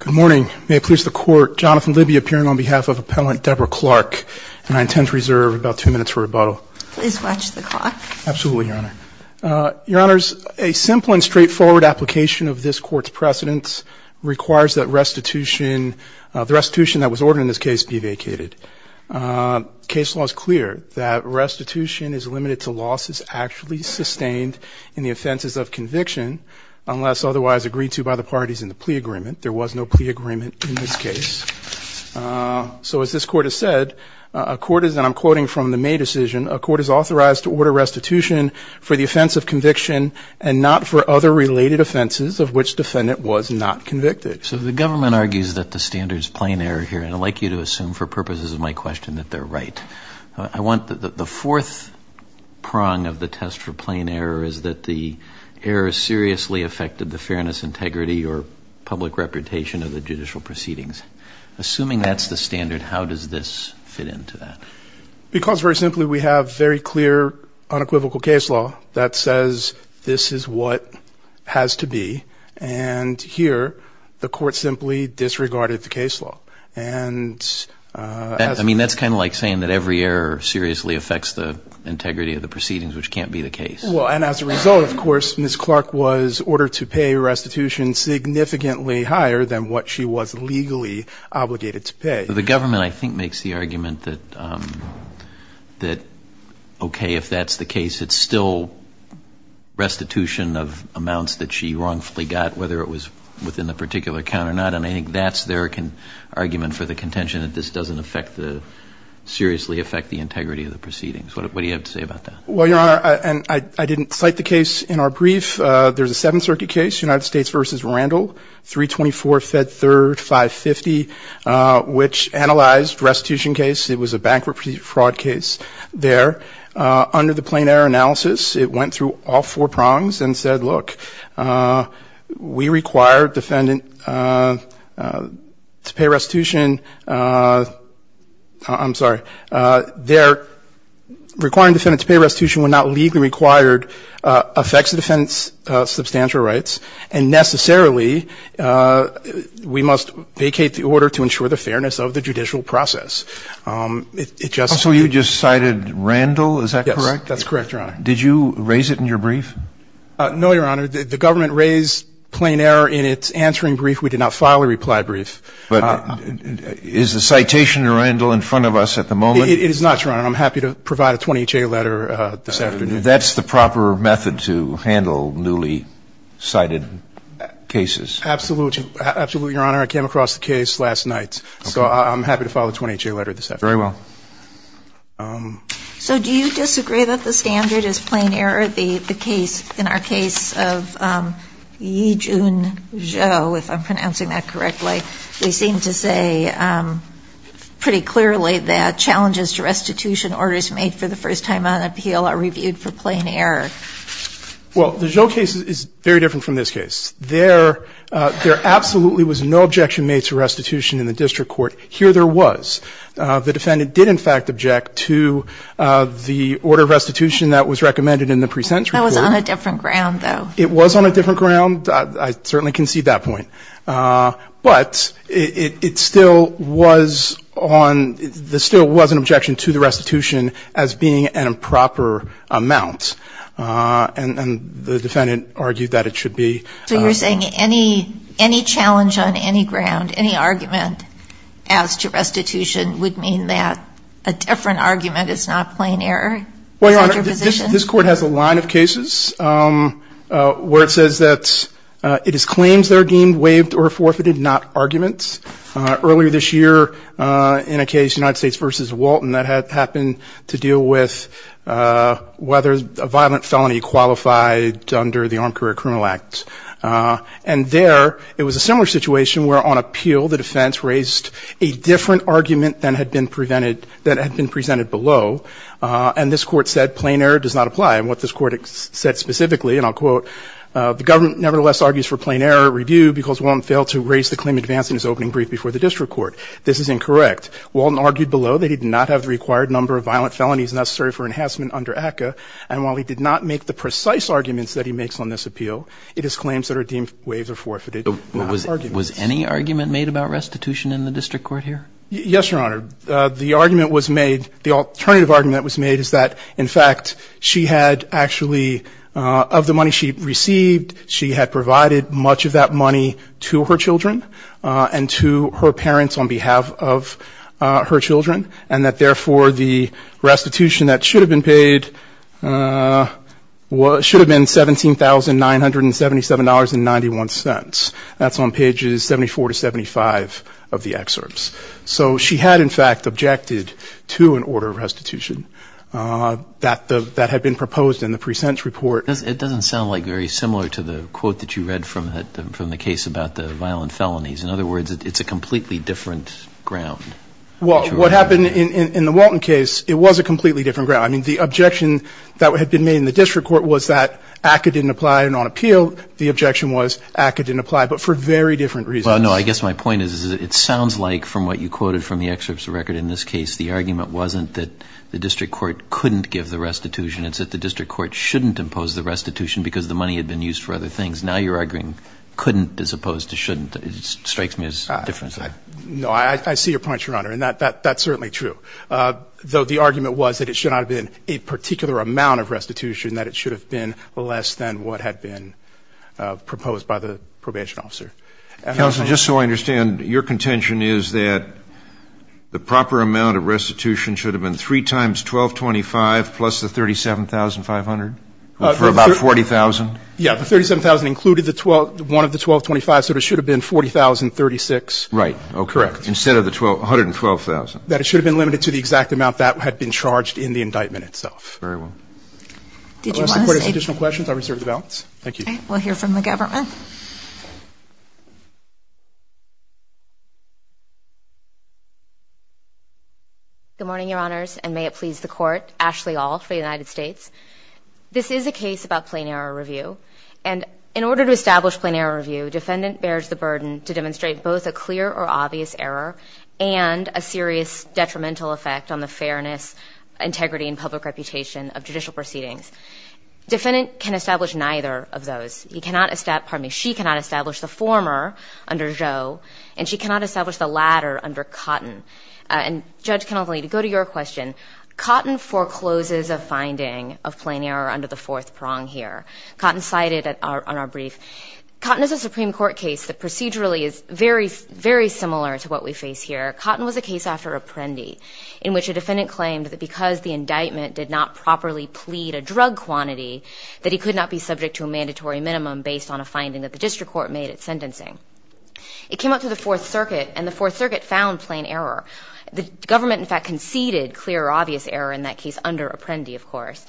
Good morning. May it please the Court, Jonathan Libby appearing on behalf of Appellant Debra Clark, and I intend to reserve about two minutes for rebuttal. Please watch the clock. Absolutely, Your Honor. Your Honors, a simple and straightforward application of this Court's precedence requires that restitution, the restitution that was ordered in this case, be vacated. Case law is clear that restitution is limited to losses actually sustained in the offenses of conviction unless otherwise agreed to by the parties in the plea agreement. There was no plea agreement in this case. So as this Court has said, a court is, and I'm quoting from the May decision, a court is authorized to order restitution for the offense of conviction and not for other related offenses of which defendant was not convicted. So the government argues that the standard is plain error here, and I'd like you to assume for purposes of my question that they're right. I want the fourth prong of the test for plain error is that the error seriously affected the fairness, integrity, or public reputation of the judicial proceedings. Assuming that's the standard, how does this fit into that? Because very simply we have very clear unequivocal case law that says this is what has to be, and here the court simply disregarded the case law. And I mean that's kind of like saying that every error seriously affects the integrity of the proceedings, which can't be the case. Well, and as a result, of course, Ms. Clark was ordered to pay restitution significantly higher than what she was legally obligated to pay. The government, I think, makes the argument that okay, if that's the case, it's still restitution of amounts that she wrongfully got whether it was within the particular count or not, and I think that's their argument for the contention that this doesn't affect the, seriously affect the integrity of the proceedings. What do you have to say about that? Well, Your Honor, I didn't cite the case in our brief. There's a Seventh Circuit case, United States v. Randall, 324 Fed 3rd 550, which analyzed restitution case. It was a bankruptcy fraud case there. Under the plain error analysis, it went through all four prongs and said, look, we require a defendant to pay restitution. I'm sorry. Requiring a defendant to pay restitution when not legally required affects the defendant's substantial rights, and necessarily we must vacate the order to ensure the fairness of the judicial process. It just So you just cited Randall, is that correct? Yes, that's correct, Your Honor. Did you raise it in your brief? No, Your Honor. The government raised plain error in its answering brief. We did not file a reply brief. But is the citation in Randall in front of us at the moment? It is not, Your Honor. I'm happy to provide a 20-H.A. letter this afternoon. That's the proper method to handle newly cited cases. Absolutely. Absolutely, Your Honor. I came across the case last night, so I'm happy to file a 20-H.A. letter this afternoon. Very well. So do you disagree that the standard is plain error? The case, in our case of Yijun Zhou, if I'm pronouncing that correctly, they seem to say pretty clearly that challenges to restitution orders made for the first time on appeal are reviewed for plain error. Well, the Zhou case is very different from this case. There absolutely was no objection made to restitution in the district court. Here there was. The defendant did, in fact, object to the order of restitution that was recommended in the pre-sentence report. That was on a different ground, though. It was on a different ground. I certainly concede that point. But it still was on – there still was an objection to the restitution as being an improper amount. And the defendant argued that it should be. So you're saying any – any challenge on any ground, any argument as to restitution would mean that a different argument is not plain error? Well, Your Honor, this – this court has a line of cases where it says that it is claims that are deemed waived or forfeited, not arguments. Earlier this year in a case, United States v. Walton, that happened to deal with whether a violent felony qualified under the Armed Career Criminal Act. And there it was a similar situation where, on appeal, the defense raised a different argument than had been presented – than had been presented below. And this court said plain error does not apply. And what this court said specifically, and I'll quote, the government nevertheless argues for plain error review because Walton failed to raise the claim advancing his opening brief before the district court. This is incorrect. Walton argued below that he did not have the required number of violent felonies necessary for enhancement under ACCA. And while he did not make the precise arguments that he makes on this appeal, it is claims that are deemed waived or forfeited, not arguments. Was any argument made about restitution in the district court here? Yes, Your Honor. The argument was made – the alternative argument that was made is that, in fact, she had actually – of the money she received, she had provided much of that money to her children and to her parents on behalf of her children, and that, therefore, the restitution that should have been paid should have been $17,977.91. That's on pages 74 to 75 of the excerpts. So she had, in fact, objected to an order of restitution that the – that had been proposed in the presents report. It doesn't sound like very similar to the quote that you read from the case about the violent felonies. In other words, it's a completely different ground. Well, what happened in the Walton case, it was a completely different ground. I mean, the objection that had been made in the district court was that ACCA didn't apply and on Well, no, I guess my point is it sounds like, from what you quoted from the excerpts of the record in this case, the argument wasn't that the district court couldn't give the restitution. It's that the district court shouldn't impose the restitution because the money had been used for other things. Now you're arguing couldn't as opposed to shouldn't. It strikes me as different. No, I see your point, Your Honor, and that's certainly true, though the argument was that it should not have been a particular amount of restitution, that it should have been less than what had been proposed by the probation officer. Counsel, just so I understand, your contention is that the proper amount of restitution should have been three times $1,225 plus the $37,500, for about $40,000? Yeah, the $37,000 included one of the $1,225, so there should have been $40,036. Right. Oh, correct. Instead of the $112,000. That it should have been limited to the exact amount that had been charged in the indictment itself. Very well. Did you want to say? Unless the Court has additional questions, I will reserve the balance. Thank you. Okay. We'll hear from the government. Good morning, Your Honors, and may it please the Court. Ashley Aul for the United States. This is a case about plain error review, and in order to establish plain error review, defendant bears the burden to demonstrate both a clear or obvious error and a serious Defendant can establish neither of those. He cannot establish, pardon me, she cannot establish the former under Joe, and she cannot establish the latter under Cotton. And Judge Kennelly, to go to your question, Cotton forecloses a finding of plain error under the fourth prong here. Cotton cited on our brief. Cotton is a Supreme Court case that procedurally is very, very similar to what we face here. Cotton was a case after Apprendi, in which a defendant claimed that because the indictment did not properly plead a drug quantity, that he could not be subject to a mandatory minimum based on a finding that the district court made at sentencing. It came up to the Fourth Circuit, and the Fourth Circuit found plain error. The government, in fact, conceded clear or obvious error in that case under Apprendi, of course.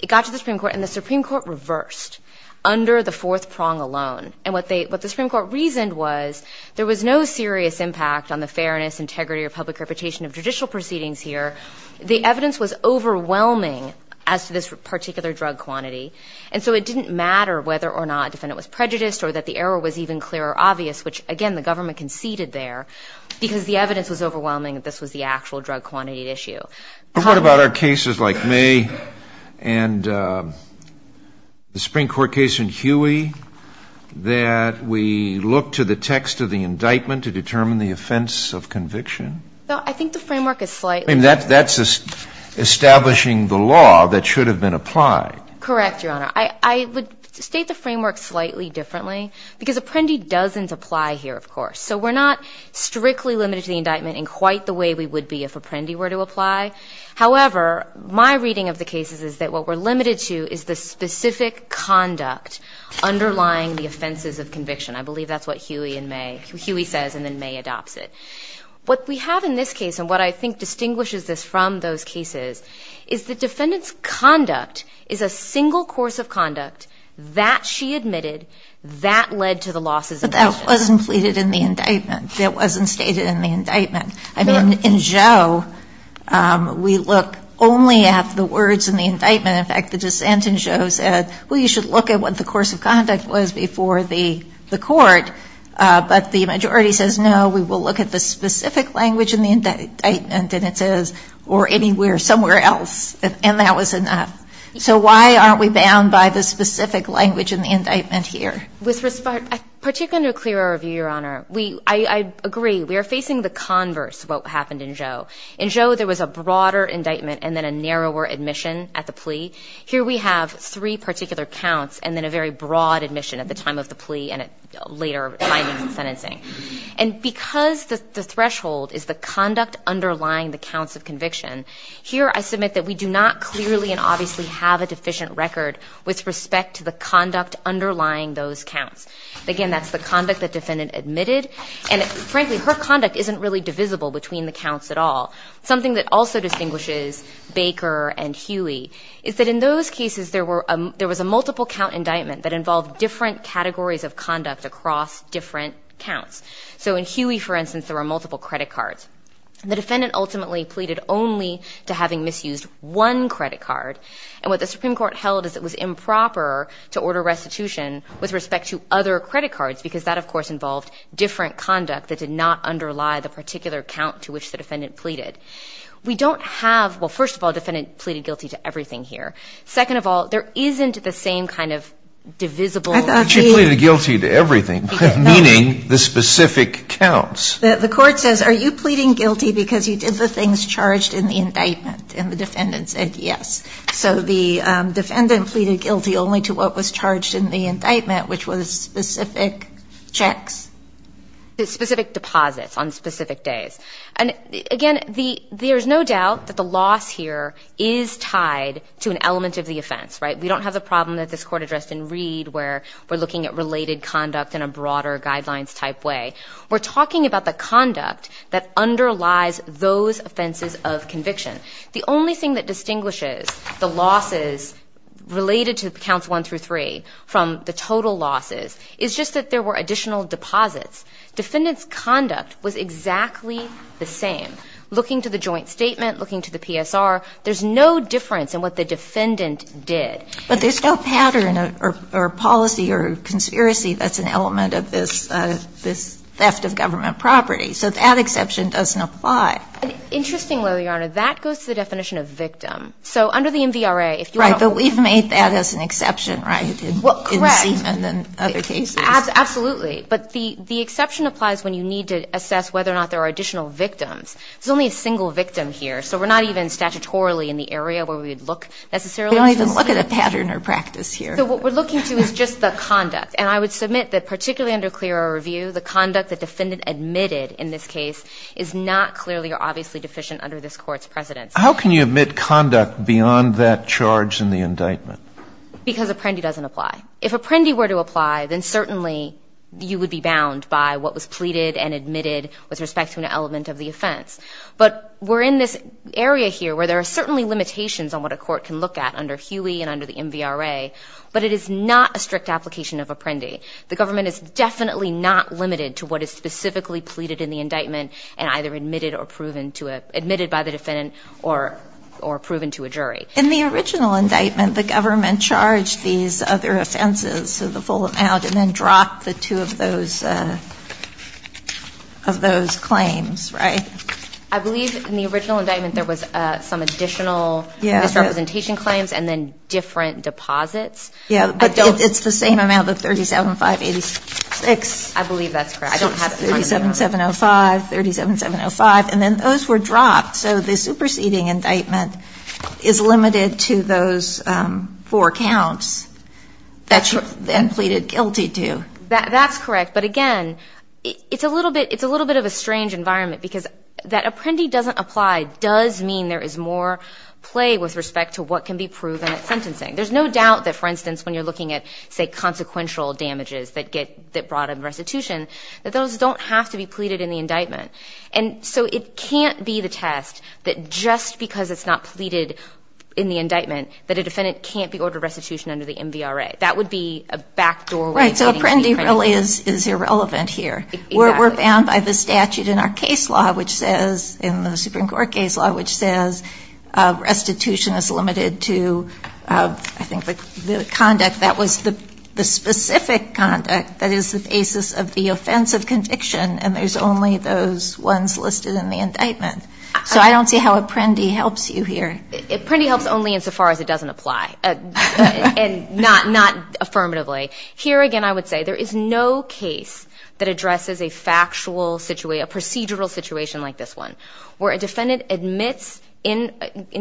It got to the Supreme Court, and the Supreme Court reversed under the fourth prong alone. And what they, what the Supreme Court reasoned was there was no serious impact on the fairness, integrity, or public reputation of judicial proceedings here. The evidence was overwhelming as to this particular drug quantity. And so it didn't matter whether or not a defendant was prejudiced or that the error was even clear or obvious, which, again, the government conceded there, because the evidence was overwhelming that this was the actual drug quantity at issue. But what about our cases like May and the Supreme Court case in Huey that we look to the text of the indictment to determine the offense of conviction? No, I think the framework is slightly different. I mean, that's establishing the law that should have been applied. Correct, Your Honor. I would state the framework slightly differently, because Apprendi doesn't apply here, of course. So we're not strictly limited to the indictment in quite the way we would be if Apprendi were to apply. However, my reading of the cases is that what we're limited to is the specific conduct underlying the offenses of conviction. I believe that's what Huey and May, Huey says and then May adopts it. What we have in this case and what I think distinguishes this from those cases is the defendant's conduct is a single course of conduct that she admitted that led to the losses in conviction. But that wasn't pleaded in the indictment. That wasn't stated in the indictment. I mean, in Joe, we look only at the words in the indictment. In fact, the dissent in Joe said, well, you should look at what the course of conduct was before the court. But the majority says, no, we will look at the specific language in the indictment and it says, or anywhere, somewhere else. And that was enough. So why aren't we bound by the specific language in the indictment here? With respect, particularly to a clearer view, Your Honor, I agree. We are facing the converse of what happened in Joe. In Joe, there was a broader indictment and then a narrower admission at the plea. Here we have three particular counts and then a very broad admission at the time of the plea and at later findings and sentencing. And because the threshold is the conduct underlying the counts of conviction, here I submit that we do not clearly and obviously have a deficient record with respect to the conduct underlying those counts. Again, that's the conduct that defendant admitted. And frankly, her conduct isn't really divisible between the counts at all. Something that also distinguishes Baker and Huey is that in those cases, there was a multiple count indictment that involved different categories of conduct across different counts. So in Huey, for instance, there were multiple credit cards. The defendant ultimately pleaded only to having misused one credit card. And what the Supreme Court held is it was improper to order restitution with respect to other credit cards because that, of course, involved different conduct that did not underlie the particular count to which the defendant pleaded. We don't have, well, first of all, defendant pleaded guilty to everything here. Second of all, there isn't the same kind of divisible. I thought she pleaded guilty to everything, meaning the specific counts. The court says, are you pleading guilty because you did the things charged in the indictment, and the defendant said yes. So the defendant pleaded guilty only to what was charged in the indictment, which was specific checks. Specific deposits on specific days. And again, there's no doubt that the loss here is tied to an element of the offense, right? We don't have the problem that this court addressed in Reed where we're looking at related conduct in a broader guidelines type way. We're talking about the conduct that underlies those offenses of conviction. The only thing that distinguishes the losses related to counts one through three from the total losses is just that there were additional deposits. Defendant's conduct was exactly the same. Looking to the joint statement, looking to the PSR, there's no difference in what the defendant did. But there's no pattern or policy or conspiracy that's an element of this theft of government property. So that exception doesn't apply. Interestingly, Your Honor, that goes to the definition of victim. So under the MVRA, if you want to. Right, but we've made that as an exception, right, in Seaman and other cases. Absolutely. But the exception applies when you need to assess whether or not there are additional victims. There's only a single victim here. So we're not even statutorily in the area where we would look necessarily. We don't even look at a pattern or practice here. So what we're looking to is just the conduct. And I would submit that particularly under clear review, the conduct that defendant admitted in this case is not clearly or obviously deficient under this court's precedence. How can you admit conduct beyond that charge in the indictment? Because Apprendi doesn't apply. If Apprendi were to apply, then certainly you would be bound by what was pleaded and admitted with respect to an element of the offense. But we're in this area here where there are certainly limitations on what a court can look at under Huey and under the MVRA, but it is not a strict application of Apprendi. The government is definitely not limited to what is specifically pleaded in the indictment In the original indictment, the government charged these other offenses, so the full amount, and then dropped the two of those claims, right? I believe in the original indictment there was some additional misrepresentation claims and then different deposits. Yeah, but it's the same amount, the 37,586. I believe that's correct. I don't have to remind you. 37,705, 37,705, and then those were dropped. So the superseding indictment is limited to those four counts that you're then pleaded guilty to. That's correct, but again, it's a little bit of a strange environment because that Apprendi doesn't apply does mean there is more play with respect to what can be proven at sentencing. There's no doubt that, for instance, when you're looking at, say, consequential damages that brought in restitution, that those don't have to be pleaded in the indictment. And so it can't be the test that just because it's not pleaded in the indictment that a defendant can't be ordered restitution under the MVRA. That would be a backdoor way of getting to the Apprendi case. Right, so Apprendi really is irrelevant here. We're bound by the statute in our case law, which says, in the Supreme Court case law, which says restitution is limited to, I think, the conduct that was the specific conduct that is the basis of the offensive conviction, and there's only those ones listed in the indictment, so I don't see how Apprendi helps you here. Apprendi helps only insofar as it doesn't apply, and not affirmatively. Here, again, I would say there is no case that addresses a factual situation, a procedural situation like this one, where a defendant admits in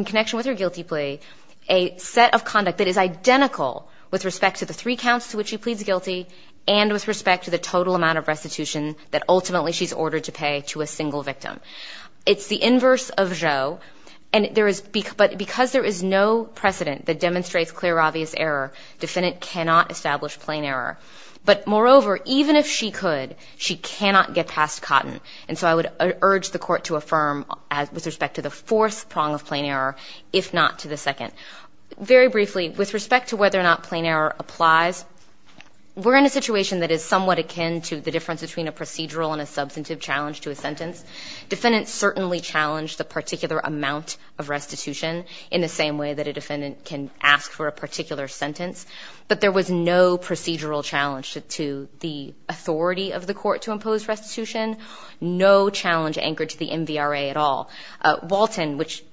connection with her guilty plea a set of conduct that is identical with respect to the three counts to which she pleads guilty, and with respect to the total amount of restitution that ultimately she's ordered to pay to a single victim. It's the inverse of Joe, but because there is no precedent that demonstrates clear, obvious error, defendant cannot establish plain error. But moreover, even if she could, she cannot get past Cotton, and so I would urge the court to affirm with respect to the fourth prong of plain error, if not to the second. Very briefly, with respect to whether or not plain error applies, we're in a situation that is somewhat akin to the difference between a procedural and a substantive challenge to a sentence. Defendants certainly challenge the particular amount of restitution in the same way that a defendant can ask for a particular sentence, but there was no procedural challenge to the authority of the court to impose restitution, no challenge anchored to the MVRA at all. Walton, which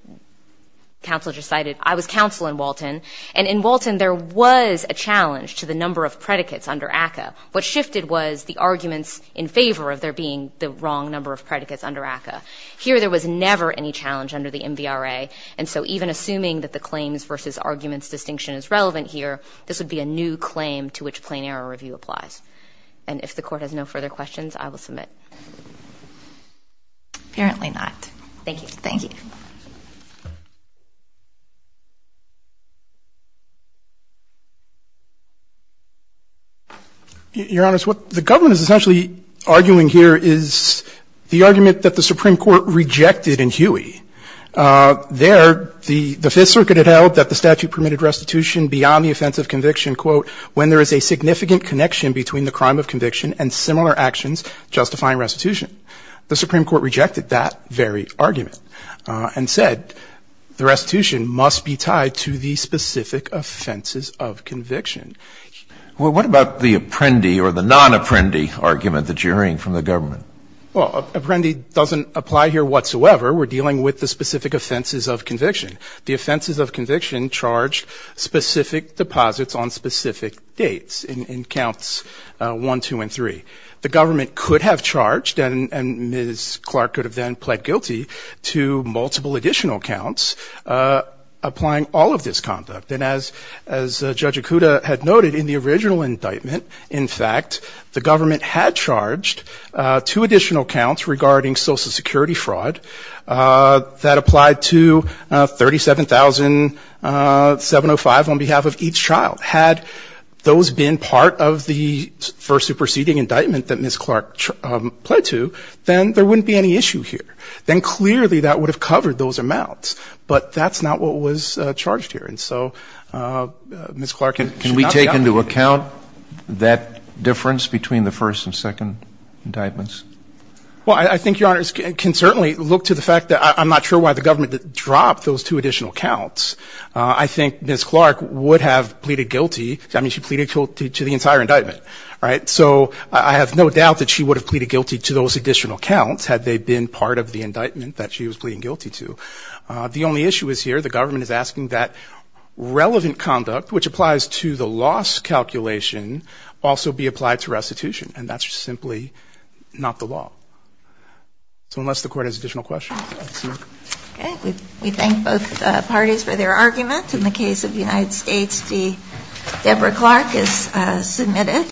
counsel decided, I was counsel in Walton, and in Walton, there was a challenge to the number of predicates under ACCA. What shifted was the arguments in favor of there being the wrong number of predicates under ACCA. Here, there was never any challenge under the MVRA, and so even assuming that the claims versus arguments distinction is relevant here, this would be a new claim to which plain error review applies. And if the court has no further questions, I will submit. Apparently not. Thank you. Thank you. Your Honors, what the government is essentially arguing here is the argument that the Supreme Court rejected in Huey. There, the Fifth Circuit had held that the statute permitted restitution beyond the offense of conviction, quote, when there is a significant connection between the crime of conviction and similar actions justifying restitution. The Supreme Court rejected that very argument and said, the restitution must be tied to the specific offenses of conviction. Well, what about the Apprendi or the non-Apprendi argument that you're hearing from the government? Well, Apprendi doesn't apply here whatsoever. We're dealing with the specific offenses of conviction. The offenses of conviction charge specific deposits on specific dates in counts one, two, and three. The government could have charged, and Ms. Clark could have then pled guilty, to multiple additional counts applying all of this conduct. And as Judge Okuda had noted in the original indictment, in fact, the government had charged two additional counts regarding Social Security fraud that applied to 37,705 on behalf of each child. Had those been part of the first superseding indictment that Ms. Clark pled to, then there wouldn't be any issue here. Then clearly that would have covered those amounts. But that's not what was charged here. And so Ms. Clark should not be obligated. Can we take into account that difference between the first and second indictments? Well, I think Your Honors can certainly look to the fact that I'm not sure why the government dropped those two additional counts. I think Ms. Clark would have pleaded guilty. I mean, she pleaded guilty to the entire indictment. So I have no doubt that she would have pleaded guilty to those additional counts had they been part of the indictment that she was pleading guilty to. The only issue is here the government is asking that relevant conduct, which applies to the loss calculation, also be applied to restitution. And that's simply not the law. So unless the Court has additional questions. Okay. We thank both parties for their argument. In the case of the United States, Deborah Clark is submitted.